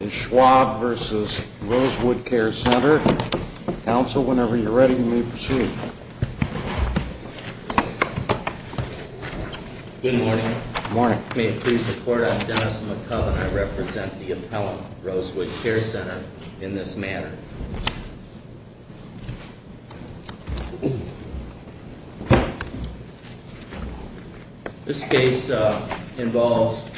Good morning. May it please the Court, I'm Dennis McCubb and I represent the appellant, Rosewood Care Center, in this matter. This case involves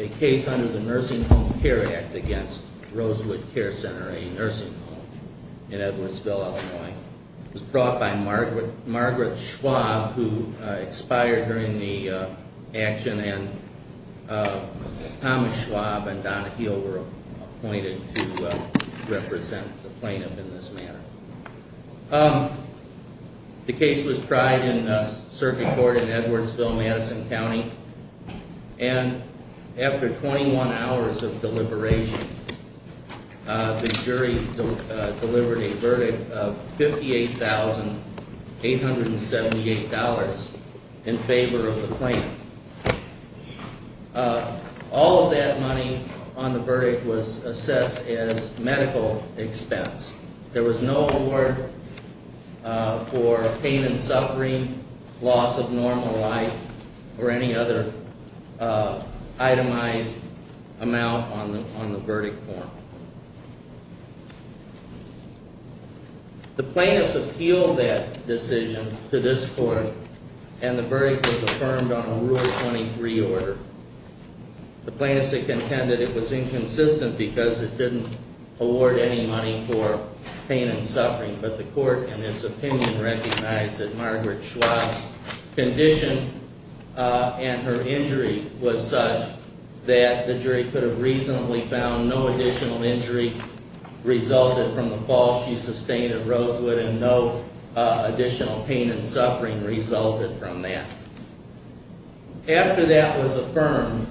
a case under the Nursing Home Care Act against Rosewood Care Center, a nursing home in Edwardsville, Illinois. It was brought by Margaret Schwab, who expired during the action, and Thomas Schwab and Donna Heal were appointed to represent the plaintiff in this matter. The case was tried in circuit court in Edwardsville, Madison County, and after 21 hours of deliberation, the jury delivered a verdict of $58,878 in favor of the plaintiff. All of that money on the verdict was assessed as medical expense. There was no award for pain and suffering, loss of normal life, or any other itemized amount on the verdict form. The plaintiffs appealed that decision to this Court and the verdict was affirmed on a Rule 23 order. The plaintiffs contended it was inconsistent because it didn't award any money for pain and suffering, but the Court, in its opinion, recognized that Margaret Schwab's condition and her injury was such that the jury could have reasonably found no additional injury resulted from the fall she sustained at Rosewood and no additional pain and suffering resulted from that. After that was affirmed,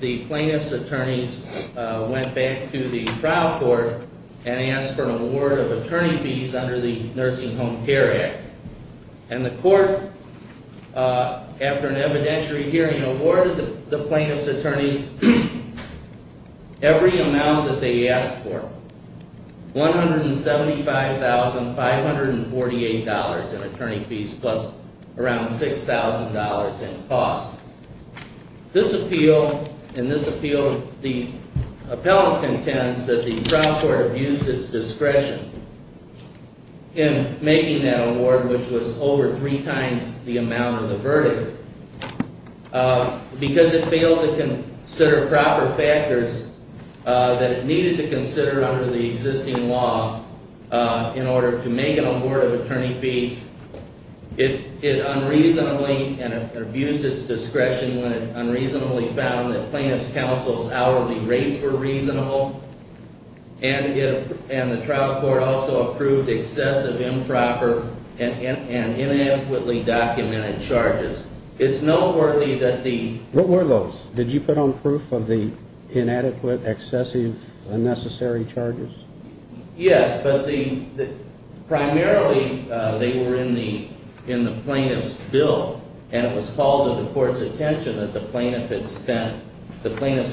the plaintiffs' attorneys went back to the trial court and asked for an award of attorney fees under the Nursing Home Care Act. And the Court, after an evidentiary hearing, awarded the plaintiffs' attorneys every amount that they asked for, $175,548 in attorney fees plus around $6,000 in cost. In this appeal, the appellant contends that the trial court abused its discretion in making that award, which was over three times the amount of the verdict, because it failed to consider proper factors that it needed to consider under the existing law in order to make an award of attorney fees. It unreasonably abused its discretion when it unreasonably found that plaintiffs' counsel's hourly rates were reasonable, and the trial court also approved excessive, improper, and inadequately documented charges. It's noteworthy that the… What were those? Did you put on proof of the inadequate, excessive, unnecessary charges? Yes, but primarily they were in the plaintiff's bill, and it was called to the Court's attention that the plaintiff's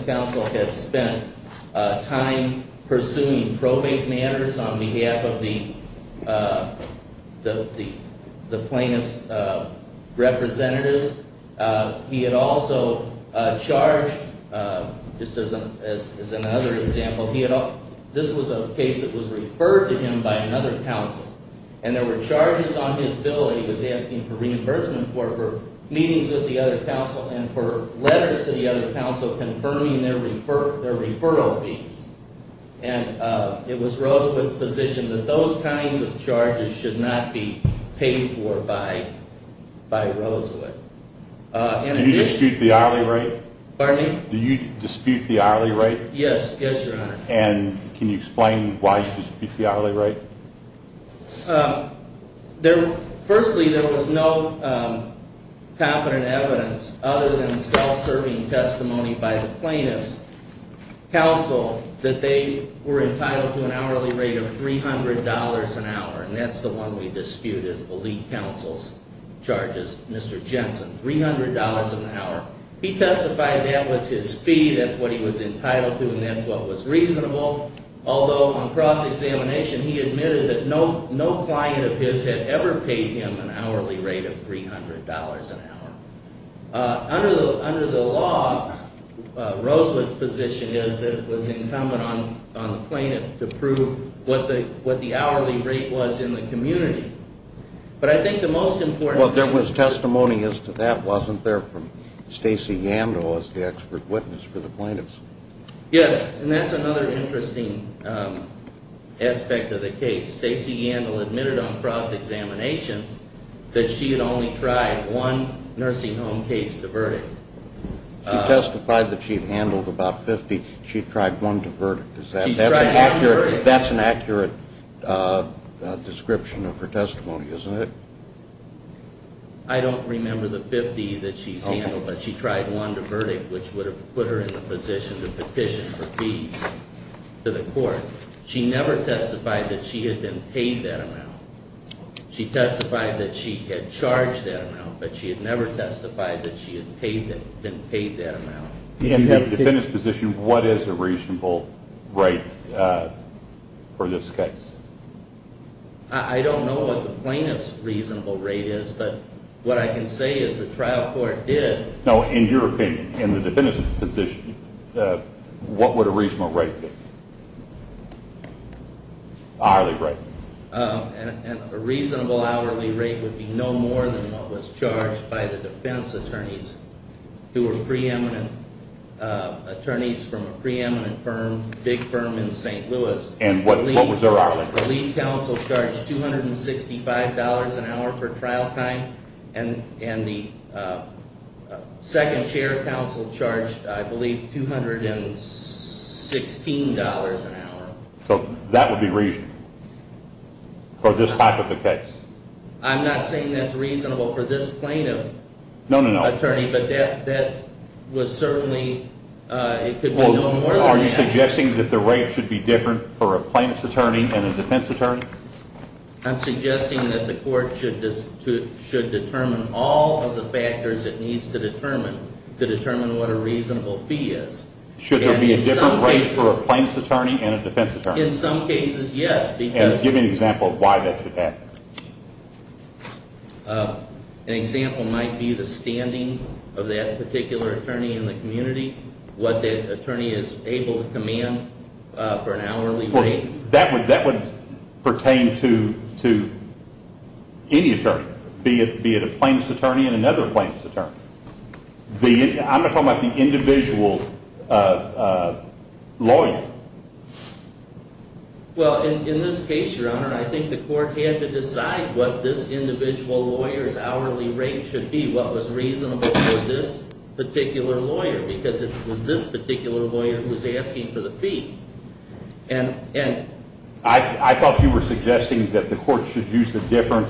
counsel had spent time pursuing probate matters on behalf of the plaintiff's representatives. He had also charged, just as another example, he had… This was a case that was referred to him by another counsel, and there were charges on his bill he was asking for reimbursement for, for meetings with the other counsel and for letters to the other counsel confirming their referral fees. And it was Rosewood's position that those kinds of charges should not be paid for by Rosewood. Do you dispute the hourly rate? Pardon me? Do you dispute the hourly rate? Yes, yes, Your Honor. And can you explain why you dispute the hourly rate? Firstly, there was no competent evidence other than self-serving testimony by the plaintiff's counsel that they were entitled to an hourly rate of $300 an hour, and that's the one we dispute as the lead counsel's charges, Mr. Jensen, $300 an hour. He testified that was his fee, that's what he was entitled to, and that's what was reasonable. Although, on cross-examination, he admitted that no client of his had ever paid him an hourly rate of $300 an hour. Under the law, Rosewood's position is that it was incumbent on the plaintiff to prove what the hourly rate was in the community. But I think the most important thing… Well, there was testimony as to that, wasn't there, from Stacey Yando as the expert witness for the plaintiffs? Yes, and that's another interesting aspect of the case. Stacey Yandle admitted on cross-examination that she had only tried one nursing home case to verdict. She testified that she had handled about 50. She tried one to verdict. She tried one to verdict. That's an accurate description of her testimony, isn't it? I don't remember the 50 that she's handled, but she tried one to verdict, which would have put her in the position to petition for fees to the court. She never testified that she had been paid that amount. She testified that she had charged that amount, but she had never testified that she had been paid that amount. In the defendant's position, what is a reasonable rate for this case? I don't know what the plaintiff's reasonable rate is, but what I can say is the trial court did… No, in your opinion, in the defendant's position, what would a reasonable rate be? An hourly rate. A reasonable hourly rate would be no more than what was charged by the defense attorneys, who were attorneys from a preeminent firm, a big firm in St. Louis. And what was their hourly rate? The lead counsel charged $265 an hour for trial time, and the second chair counsel charged, I believe, $216 an hour. So that would be reasonable for this type of a case? I'm not saying that's reasonable for this plaintiff. No, no, no. Well, are you suggesting that the rate should be different for a plaintiff's attorney and a defense attorney? I'm suggesting that the court should determine all of the factors it needs to determine to determine what a reasonable fee is. Should there be a different rate for a plaintiff's attorney and a defense attorney? In some cases, yes, because… Give me an example of why that should happen. An example might be the standing of that particular attorney in the community, what that attorney is able to command for an hourly rate. That would pertain to any attorney, be it a plaintiff's attorney and another plaintiff's attorney. I'm talking about the individual lawyer. Well, in this case, Your Honor, I think the court had to decide what this individual lawyer's hourly rate should be, what was reasonable for this particular lawyer, because it was this particular lawyer who was asking for the fee. I thought you were suggesting that the court should use a different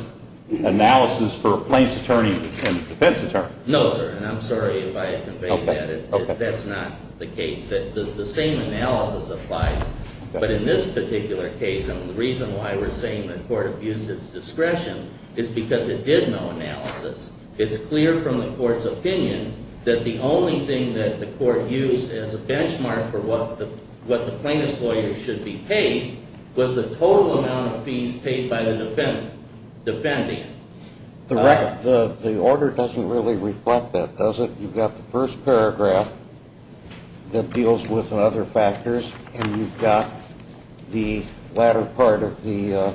analysis for a plaintiff's attorney and a defense attorney. No, sir, and I'm sorry if I conveyed that. That's not the case. The same analysis applies. But in this particular case, the reason why we're saying the court abused its discretion is because it did no analysis. It's clear from the court's opinion that the only thing that the court used as a benchmark for what the plaintiff's lawyer should be paid was the total amount of fees paid by the defendant. The order doesn't really reflect that, does it? You've got the first paragraph that deals with other factors, and you've got the latter part of the,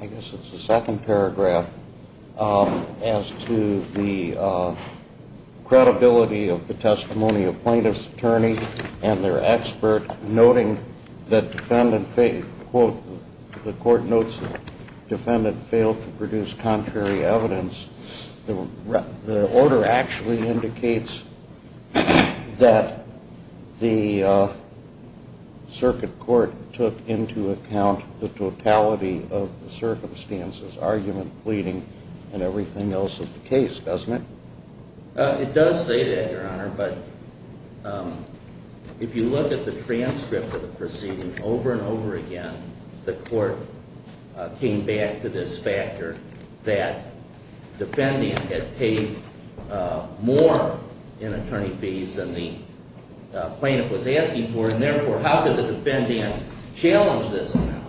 I guess it's the second paragraph, as to the credibility of the testimony of plaintiff's attorney and their expert, noting that the court notes the defendant failed to produce contrary evidence. The order actually indicates that the circuit court took into account the totality of the circumstances, argument, pleading, and everything else of the case, doesn't it? It does say that, Your Honor, but if you look at the transcript of the proceeding over and over again, the court came back to this factor that defendant had paid more in attorney fees than the plaintiff was asking for, and therefore, how could the defendant challenge this amount?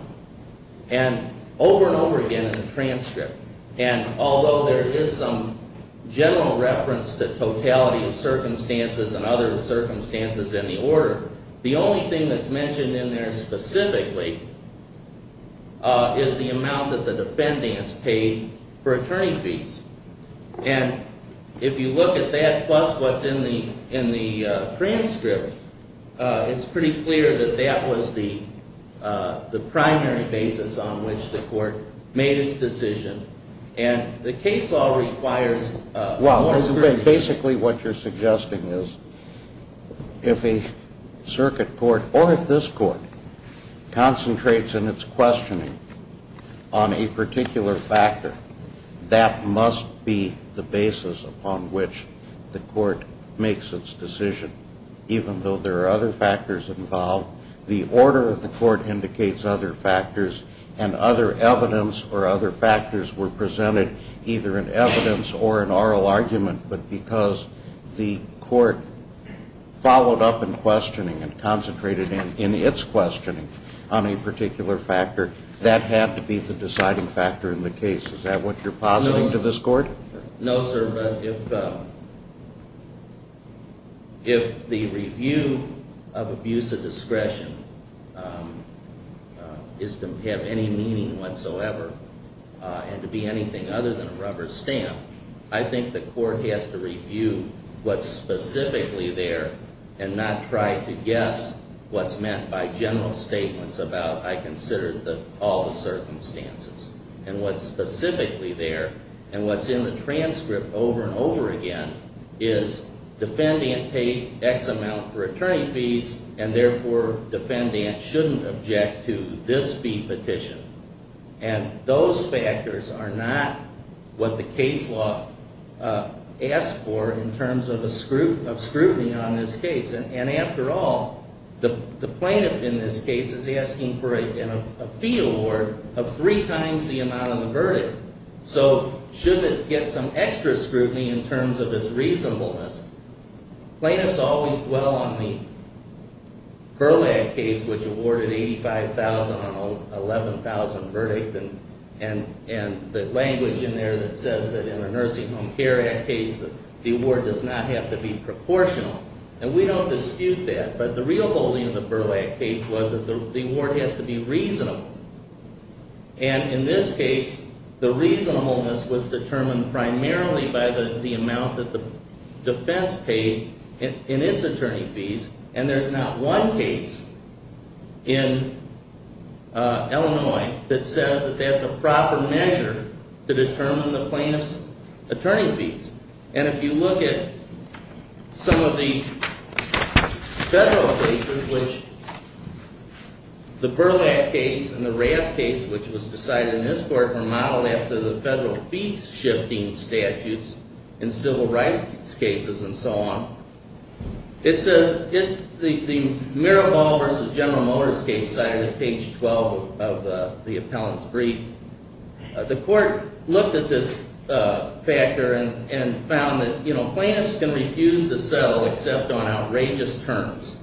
And over and over again in the transcript. And although there is some general reference to totality of circumstances and other circumstances in the order, the only thing that's mentioned in there specifically is the amount that the defendant's paid for attorney fees. And if you look at that plus what's in the transcript, it's pretty clear that that was the primary basis on which the court made its decision. And the case law requires more scrutiny. Well, basically what you're suggesting is if a circuit court, or if this court, concentrates in its questioning on a particular factor, that must be the basis upon which the court makes its decision. Even though there are other factors involved, the order of the court indicates other factors, and other evidence or other factors were presented either in evidence or an oral argument, but because the court followed up in questioning and concentrated in its questioning on a particular factor, that had to be the deciding factor in the case. Is that what you're positing to this court? No, sir. But if the review of abuse of discretion is to have any meaning whatsoever and to be anything other than a rubber stamp, I think the court has to review what's specifically there and not try to guess what's meant by general statements about, I consider all the circumstances. And what's specifically there, and what's in the transcript over and over again, is defendant paid X amount for attorney fees, and therefore defendant shouldn't object to this fee petition. And those factors are not what the case law asks for in terms of scrutiny on this case. And after all, the plaintiff in this case is asking for a fee award of three times the amount of the verdict. So should it get some extra scrutiny in terms of its reasonableness? Plaintiffs always dwell on the Burlak case, which awarded $85,000 on an $11,000 verdict, and the language in there that says that in a Nursing Home Care Act case the award does not have to be proportional. And we don't dispute that, but the real holding of the Burlak case was that the award has to be reasonable. And in this case, the reasonableness was determined primarily by the amount that the defense paid in its attorney fees. And there's not one case in Illinois that says that that's a proper measure to determine the plaintiff's attorney fees. And if you look at some of the federal cases, which the Burlak case and the Raff case, which was decided in this court, were modeled after the federal fee-shifting statutes in civil rights cases and so on, it says the Mirabal v. General Motors case cited at page 12 of the appellant's brief, the court looked at this factor and found that plaintiffs can refuse to settle except on outrageous terms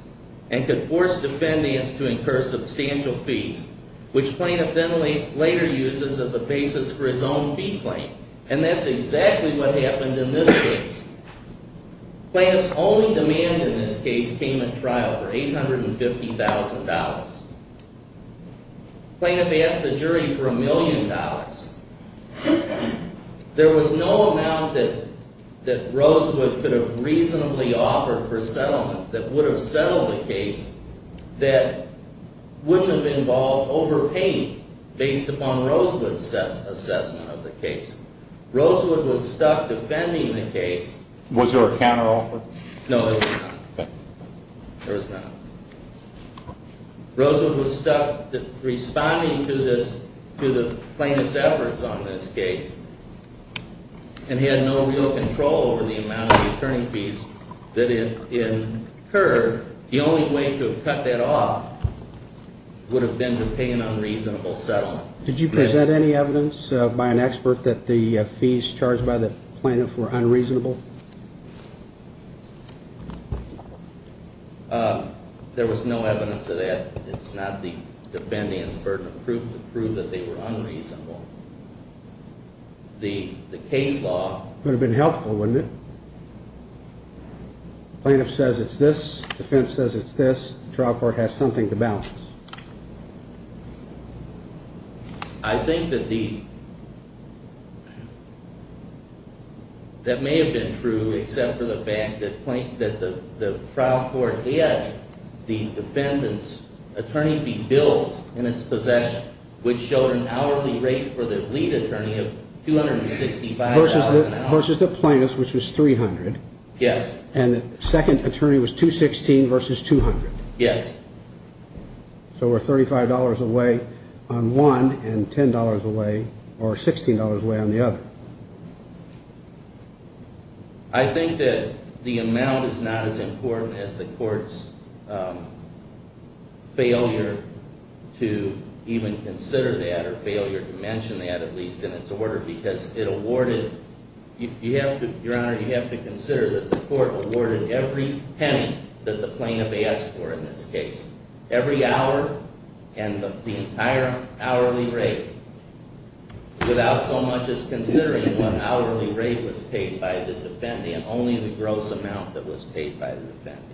and could force defendants to incur substantial fees, which plaintiff then later uses as a basis for his own fee claim. And that's exactly what happened in this case. Plaintiffs' only demand in this case came at trial for $850,000. Plaintiff asked the jury for $1 million. There was no amount that Rosewood could have reasonably offered for settlement that would have settled the case that wouldn't have involved overpaying based upon Rosewood's assessment of the case. Rosewood was stuck defending the case. Was there a counteroffer? No, there was not. Rosewood was stuck responding to the plaintiff's efforts on this case and had no real control over the amount of the attorney fees that had incurred. The only way to have cut that off would have been to pay an unreasonable settlement. Did you present any evidence by an expert that the fees charged by the plaintiff were unreasonable? There was no evidence of that. It's not the defendant's burden of proof to prove that they were unreasonable. The case law... Would have been helpful, wouldn't it? Plaintiff says it's this, defense says it's this, the trial court has something to balance. I think that the... That may have been true except for the fact that the trial court had the defendant's attorney fee bills in its possession which showed an hourly rate for the lead attorney of $265,000. Versus the plaintiff's which was $300,000. And the second attorney was $216,000 versus $200,000. Yes. So we're $35 away on one and $10 away or $16 away on the other. I think that the amount is not as important as the court's failure to even consider that or failure to mention that at least in its order because it awarded... Your Honor, you have to consider that the court awarded every penny that the plaintiff asked for in this case. Every hour and the entire hourly rate without so much as considering what hourly rate was paid by the defendant. Only the gross amount that was paid by the defendant.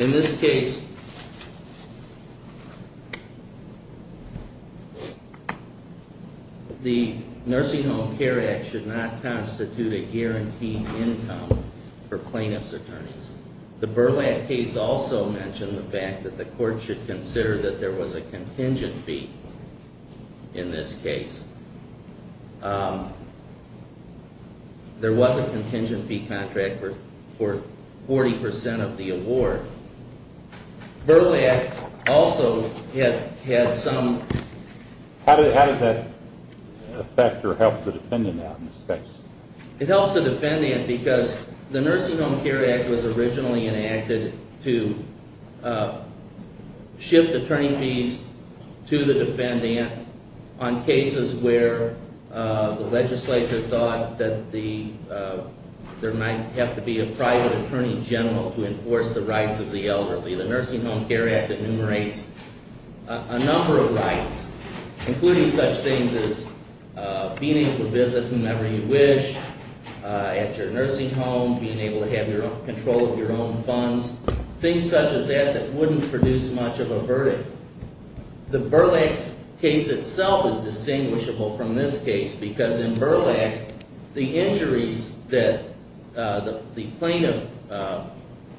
In this case, the Nursing Home Care Act should not constitute a guaranteed income for plaintiff's attorneys. The Burlak case also mentioned the fact that the court should consider that there was a contingent fee in this case. There was a contingent fee contract for 40% of the award. Burlak also had some... How does that affect or help the defendant out in this case? It helps the defendant because the Nursing Home Care Act was originally enacted to shift attorney fees to the defendant on cases where the legislature thought that there might have to be a private attorney general to enforce the rights of the elderly. The Nursing Home Care Act enumerates a number of rights, including such things as being able to visit whomever you wish at your nursing home, being able to have control of your own funds, things such as that that wouldn't produce much of a verdict. The Burlak case itself is distinguishable from this case because in Burlak, the injuries that the plaintiff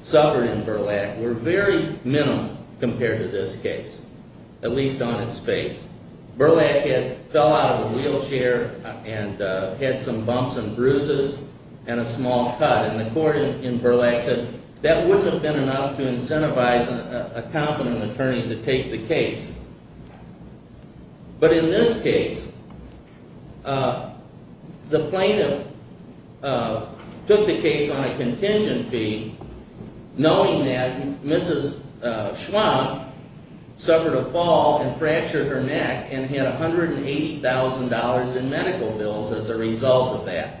suffered in Burlak were very minimal compared to this case, at least on its face. Burlak fell out of a wheelchair and had some bumps and bruises and a small cut, and the court in Burlak said that wouldn't have been enough to incentivize a competent attorney to take the case. But in this case, the plaintiff took the case on a contingent fee, knowing that Mrs. Schwandt suffered a fall and fractured her neck and had $180,000 in medical bills as a result of that.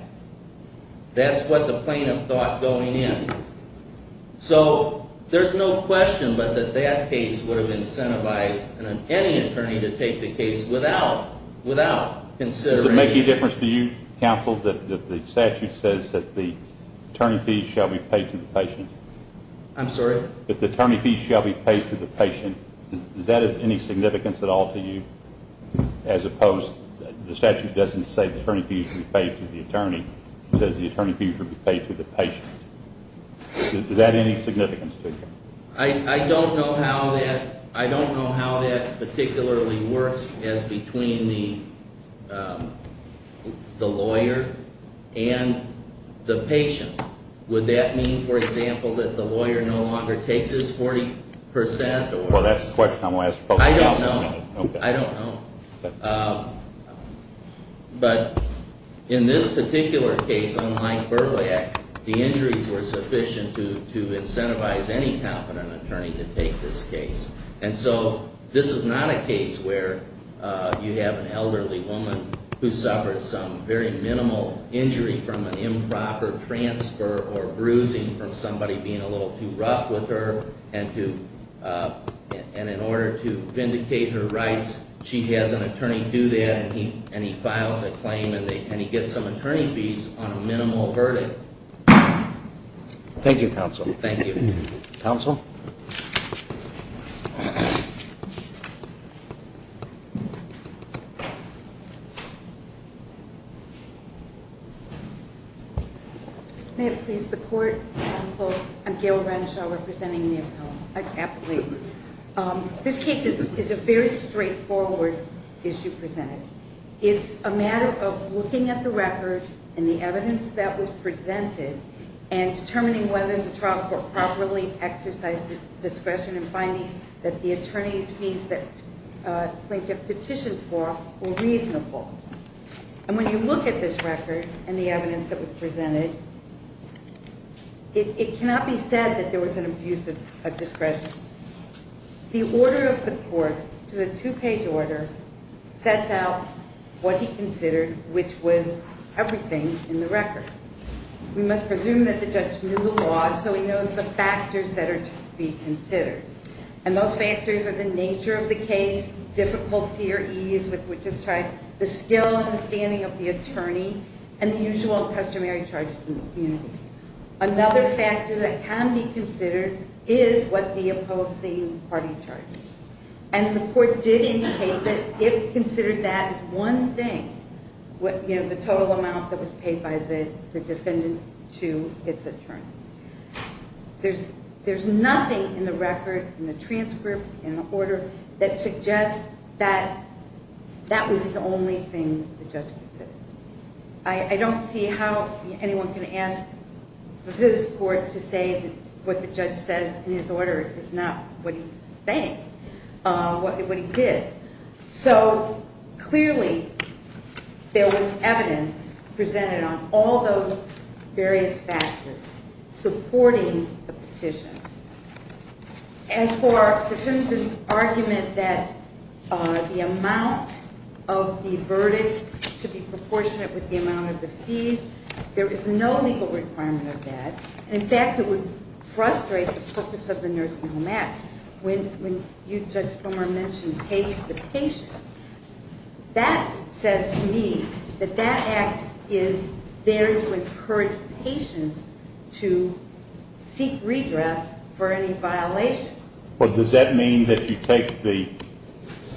That's what the plaintiff thought going in. So there's no question but that that case would have incentivized any attorney to take the case without consideration. Does it make any difference to you, counsel, that the statute says that the attorney fees shall be paid to the patient? I'm sorry? That the attorney fees shall be paid to the patient. Does that have any significance at all to you, as opposed to the statute doesn't say the attorney fees should be paid to the attorney, it says the attorney fees should be paid to the patient. Does that have any significance to you? I don't know how that particularly works as between the lawyer and the patient. Would that mean, for example, that the lawyer no longer takes his 40% or? Well, that's the question I'm going to ask. I don't know. Okay. I don't know. But in this particular case, unlike Berliak, the injuries were sufficient to incentivize any competent attorney to take this case. And so this is not a case where you have an elderly woman who suffered some very minimal injury from an improper transfer or bruising from somebody being a little too rough with her. And in order to vindicate her rights, she has an attorney do that and he files a claim and he gets some attorney fees on a minimal verdict. Thank you, counsel. Thank you. Counsel? May it please the court? I'm Gail Renshaw representing the appellate. This case is a very straightforward issue presented. It's a matter of looking at the record and the evidence that was presented and determining whether the trial court properly exercised its discretion in finding that the attorney's fees that plaintiff petitioned for were reasonable. And when you look at this record and the evidence that was presented, it cannot be said that there was an abuse of discretion. The order of the court to the two-page order sets out what he considered, which was everything in the record. We must presume that the judge knew the law so he knows the factors that are to be considered. And those factors are the nature of the case, difficulty or ease with which it's tried, the skill and the standing of the attorney, and the usual and customary charges in the community. Another factor that can be considered is what the opposing party charges. And the court did indicate that it considered that as one thing, the total amount that was paid by the defendant to its attorneys. There's nothing in the record, in the transcript, in the order, that suggests that that was the only thing the judge considered. I don't see how anyone can ask this court to say what the judge says in his order is not what he's saying, what he did. So clearly, there was evidence presented on all those various factors supporting the petition. As for the defendant's argument that the amount of the verdict should be proportionate with the amount of the fees, there is no legal requirement of that. In fact, it would frustrate the purpose of the Nursing Home Act. When you, Judge Plummer, mentioned paid the patient, that says to me that that act is there to encourage patients to seek redress for any violations. Well, does that mean that you take the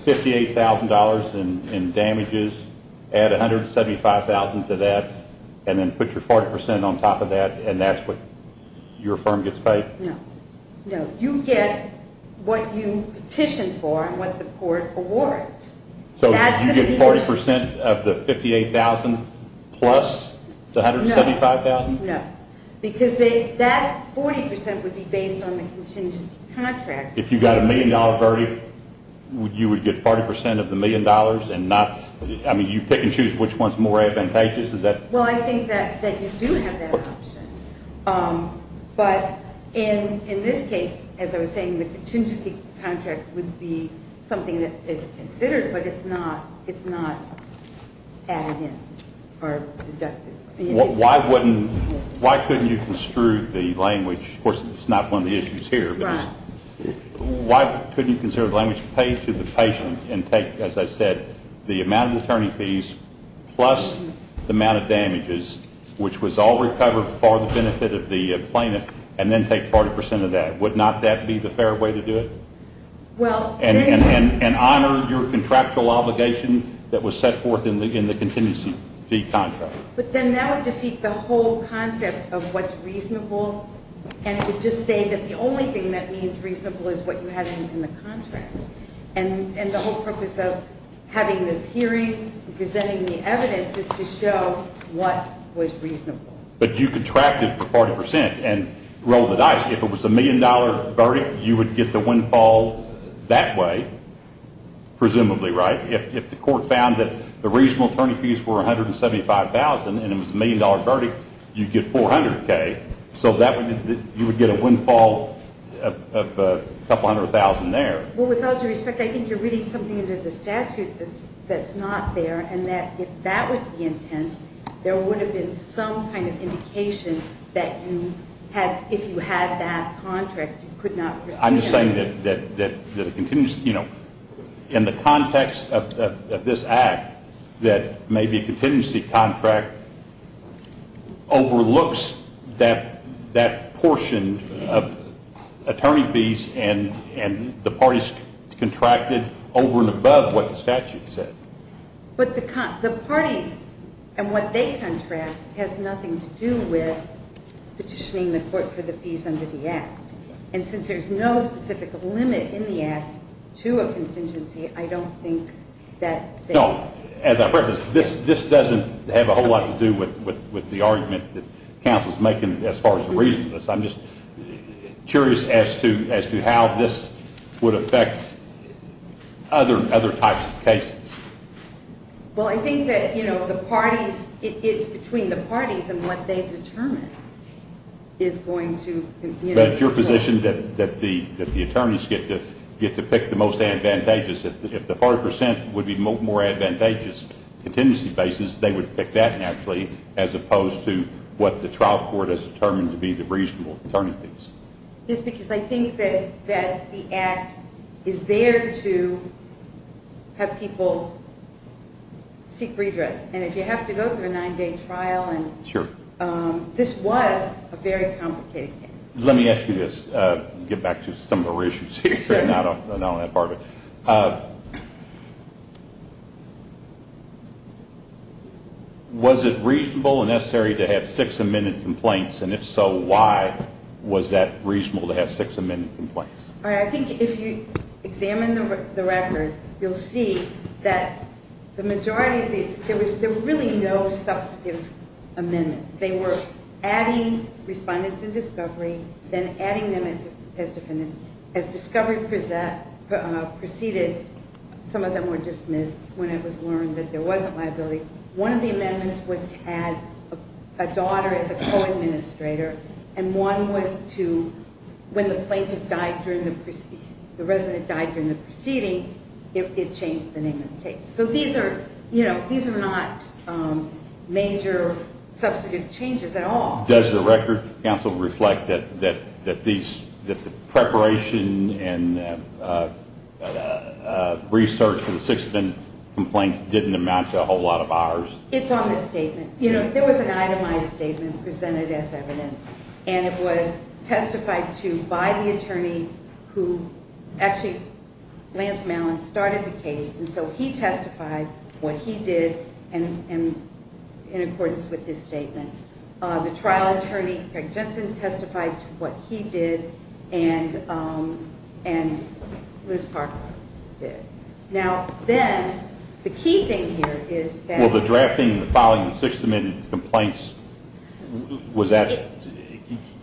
$58,000 in damages, add $175,000 to that, and then put your 40% on top of that, and that's what your firm gets paid? No. No. You get what you petitioned for and what the court awards. So you get 40% of the $58,000 plus the $175,000? No. Because that 40% would be based on the contingency contract. If you got a million-dollar verdict, you would get 40% of the million dollars? I mean, you pick and choose which one's more advantageous? Well, I think that you do have that option. But in this case, as I was saying, the contingency contract would be something that is considered, but it's not added in or deducted. Why couldn't you construe the language? Of course, it's not one of the issues here. Why couldn't you construe the language, pay to the patient, and take, as I said, the amount of attorney fees plus the amount of damages, which was all recovered for the benefit of the plaintiff, and then take 40% of that? Would not that be the fair way to do it? And honor your contractual obligation that was set forth in the contingency fee contract. But then that would defeat the whole concept of what's reasonable, and it would just say that the only thing that means reasonable is what you had in the contract. And the whole purpose of having this hearing and presenting the evidence is to show what was reasonable. But you contracted for 40% and rolled the dice. If it was a million-dollar verdict, you would get the windfall that way, presumably, right? If the court found that the reasonable attorney fees were $175,000 and it was a million-dollar verdict, you'd get $400K. So you would get a windfall of a couple hundred thousand there. Well, with all due respect, I think you're reading something into the statute that's not there, and that if that was the intent, there would have been some kind of indication that if you had that contract, you could not proceed. I'm just saying that, you know, in the context of this act, that maybe a contingency contract overlooks that portion of attorney fees and the parties contracted over and above what the statute said. But the parties and what they contract has nothing to do with petitioning the court for the fees under the act. And since there's no specific limit in the act to a contingency, I don't think that they – No, as I've referenced, this doesn't have a whole lot to do with the argument that counsel's making as far as the reason for this. I'm just curious as to how this would affect other types of cases. Well, I think that, you know, the parties – it's between the parties and what they determine is going to – But it's your position that the attorneys get to pick the most advantageous. If the party percent would be more advantageous contingency basis, they would pick that naturally as opposed to what the trial court has determined to be the reasonable attorney fees. Yes, because I think that the act is there to have people seek redress. And if you have to go through a nine-day trial and – Sure. This was a very complicated case. Let me ask you this, get back to some of the reissues here, not on that part of it. Was it reasonable and necessary to have six amended complaints? And if so, why was that reasonable to have six amended complaints? All right. I think if you examine the record, you'll see that the majority of these – there were really no substantive amendments. They were adding respondents in discovery, then adding them as defendants. As discovery proceeded, some of them were dismissed when it was learned that there wasn't liability. One of the amendments was to add a daughter as a co-administrator, and one was to – when the plaintiff died during the – the resident died during the proceeding, it changed the name of the case. So these are – you know, these are not major substantive changes at all. Does the record, counsel, reflect that these – that the preparation and research for the six of them complaints didn't amount to a whole lot of hours? It's on the statement. You know, there was an itemized statement presented as evidence, and it was testified to by the attorney who – who testified what he did in accordance with his statement. The trial attorney, Eric Jensen, testified to what he did and Liz Parker did. Now, then, the key thing here is that – Well, the drafting and the filing of the six amended complaints, was that –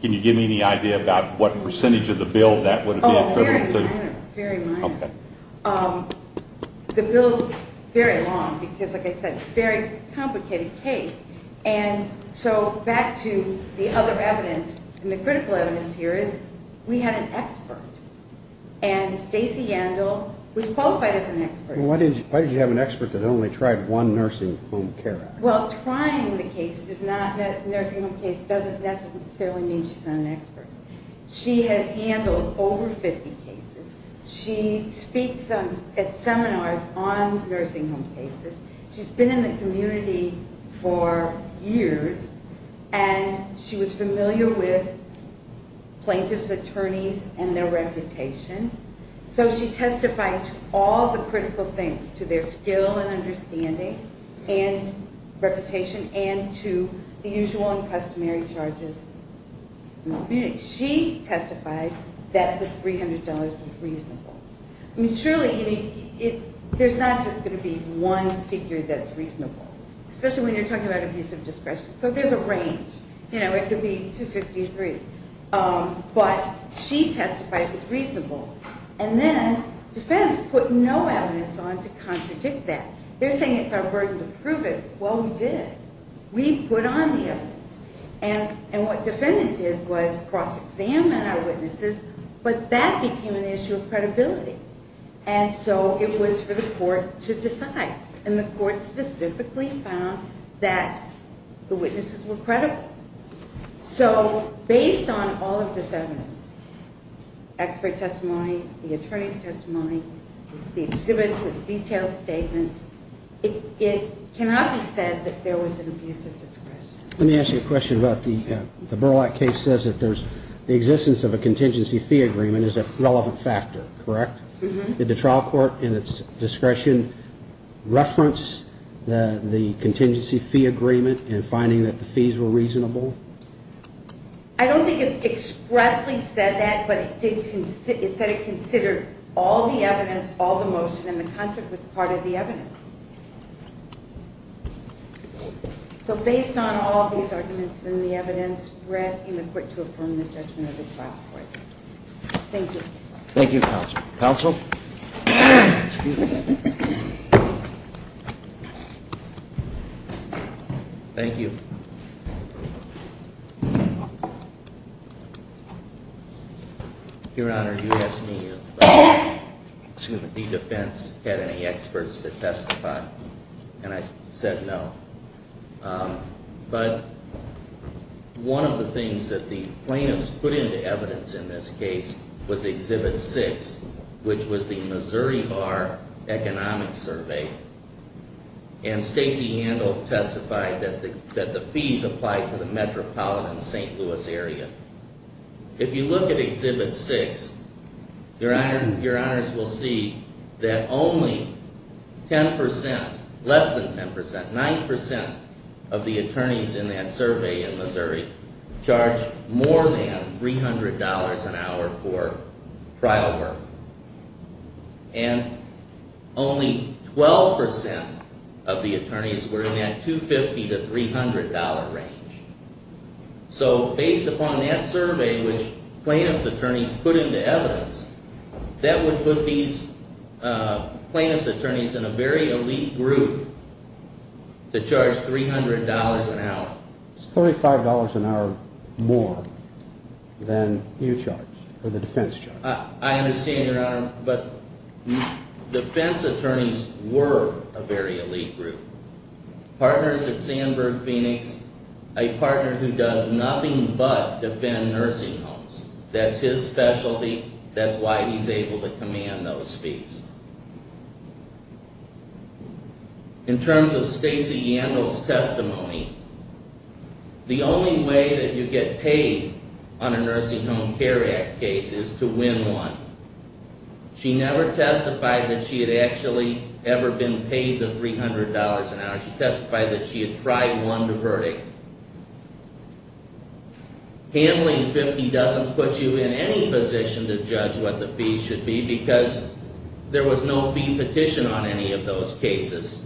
can you give me any idea about what percentage of the bill that would have been attributable to? Oh, very minor. Very minor. Okay. The bill is very long because, like I said, it's a very complicated case. And so back to the other evidence, and the critical evidence here is we had an expert. And Stacy Yandel was qualified as an expert. Why did you have an expert that only tried one nursing home care? Well, trying the case is not – the nursing home case doesn't necessarily mean she's not an expert. She has handled over 50 cases. She speaks at seminars on nursing home cases. She's been in the community for years, and she was familiar with plaintiffs' attorneys and their reputation. So she testified to all the critical things, to their skill and understanding and reputation, and to the usual and customary charges. She testified that the $300 was reasonable. I mean, surely there's not just going to be one figure that's reasonable, especially when you're talking about abusive discretion. So there's a range. You know, it could be $250, $300. But she testified it was reasonable. And then defense put no evidence on to contradict that. They're saying it's our burden to prove it. Well, we did. We put on the evidence. And what defendant did was cross-examine our witnesses, but that became an issue of credibility. And so it was for the court to decide. And the court specifically found that the witnesses were credible. So based on all of this evidence, expert testimony, the attorney's testimony, the exhibit with detailed statements, it cannot be said that there was an abusive discretion. Let me ask you a question about the Burlap case. It says that the existence of a contingency fee agreement is a relevant factor, correct? Did the trial court in its discretion reference the contingency fee agreement in finding that the fees were reasonable? I don't think it expressly said that, but it said it considered all the evidence, all the motion, and the contradict was part of the evidence. So based on all these arguments and the evidence, we're asking the court to affirm the judgment of the trial court. Thank you. Thank you, counsel. Counsel? Thank you. Your Honor, you asked me if the defense had any experts to testify, and I said no. But one of the things that the plaintiffs put into evidence in this case was Exhibit 6, which was the Missouri Bar Economic Survey. And Stacey Handel testified that the fees applied to the metropolitan St. Louis area. If you look at Exhibit 6, Your Honors will see that only 10%, less than 10%, 9% of the attorneys in that survey in Missouri charged more than $300 an hour for trial work. And only 12% of the attorneys were in that $250 to $300 range. So based upon that survey, which plaintiffs' attorneys put into evidence, that would put these plaintiffs' attorneys in a very elite group to charge $300 an hour. It's $35 an hour more than you charged, or the defense charged. I understand, Your Honor, but defense attorneys were a very elite group. Partners at Sandburg Phoenix, a partner who does nothing but defend nursing homes. That's his specialty. That's why he's able to command those fees. In terms of Stacey Handel's testimony, the only way that you get paid on a Nursing Home Care Act case is to win one. She never testified that she had actually ever been paid the $300 an hour. She testified that she had tried one to verdict. Handling $50 doesn't put you in any position to judge what the fee should be, because there was no fee petition on any of those cases.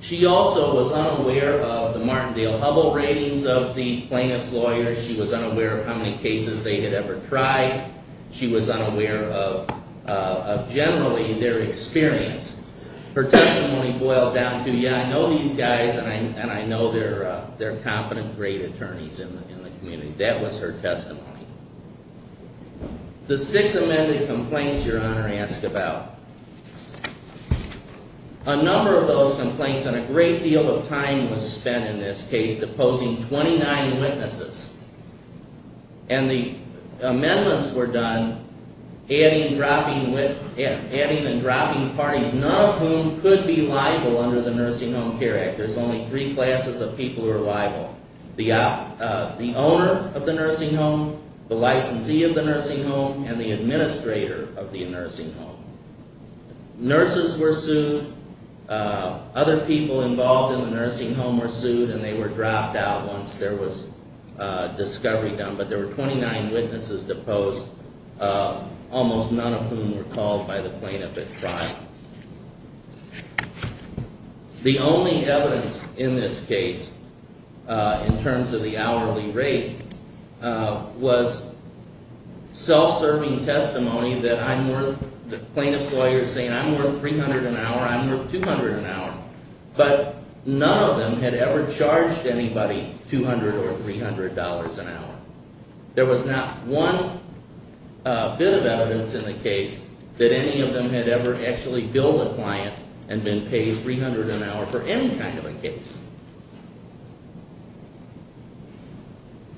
She also was unaware of the Martindale-Hubbell ratings of the plaintiffs' lawyers. She was unaware of how many cases they had ever tried. She was unaware of, generally, their experience. Her testimony boiled down to, yeah, I know these guys, and I know they're competent, great attorneys in the community. That was her testimony. The six amended complaints Your Honor asked about. A number of those complaints, and a great deal of time was spent in this case, deposing 29 witnesses. And the amendments were done adding and dropping parties, none of whom could be liable under the Nursing Home Care Act. There's only three classes of people who are liable. The owner of the nursing home, the licensee of the nursing home, and the administrator of the nursing home. Nurses were sued. Other people involved in the nursing home were sued, and they were dropped out once there was discovery done. But there were 29 witnesses deposed, almost none of whom were called by the plaintiff at trial. The only evidence in this case, in terms of the hourly rate, was self-serving testimony that I'm worth, the plaintiff's lawyer saying I'm worth $300 an hour, I'm worth $200 an hour. But none of them had ever charged anybody $200 or $300 an hour. There was not one bit of evidence in the case that any of them had ever actually billed a client and been paid $300 an hour for any kind of a case.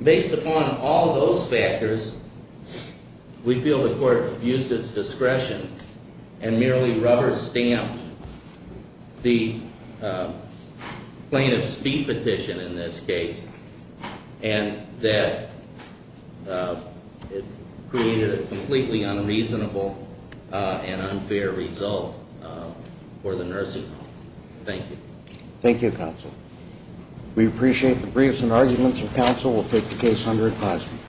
Based upon all of those factors, we feel the court used its discretion and merely rubber-stamped the plaintiff's fee petition in this case, and that it created a completely unreasonable and unfair result for the nursing home. Thank you. Thank you, counsel. We appreciate the briefs and arguments of counsel. We'll take the case under advisement.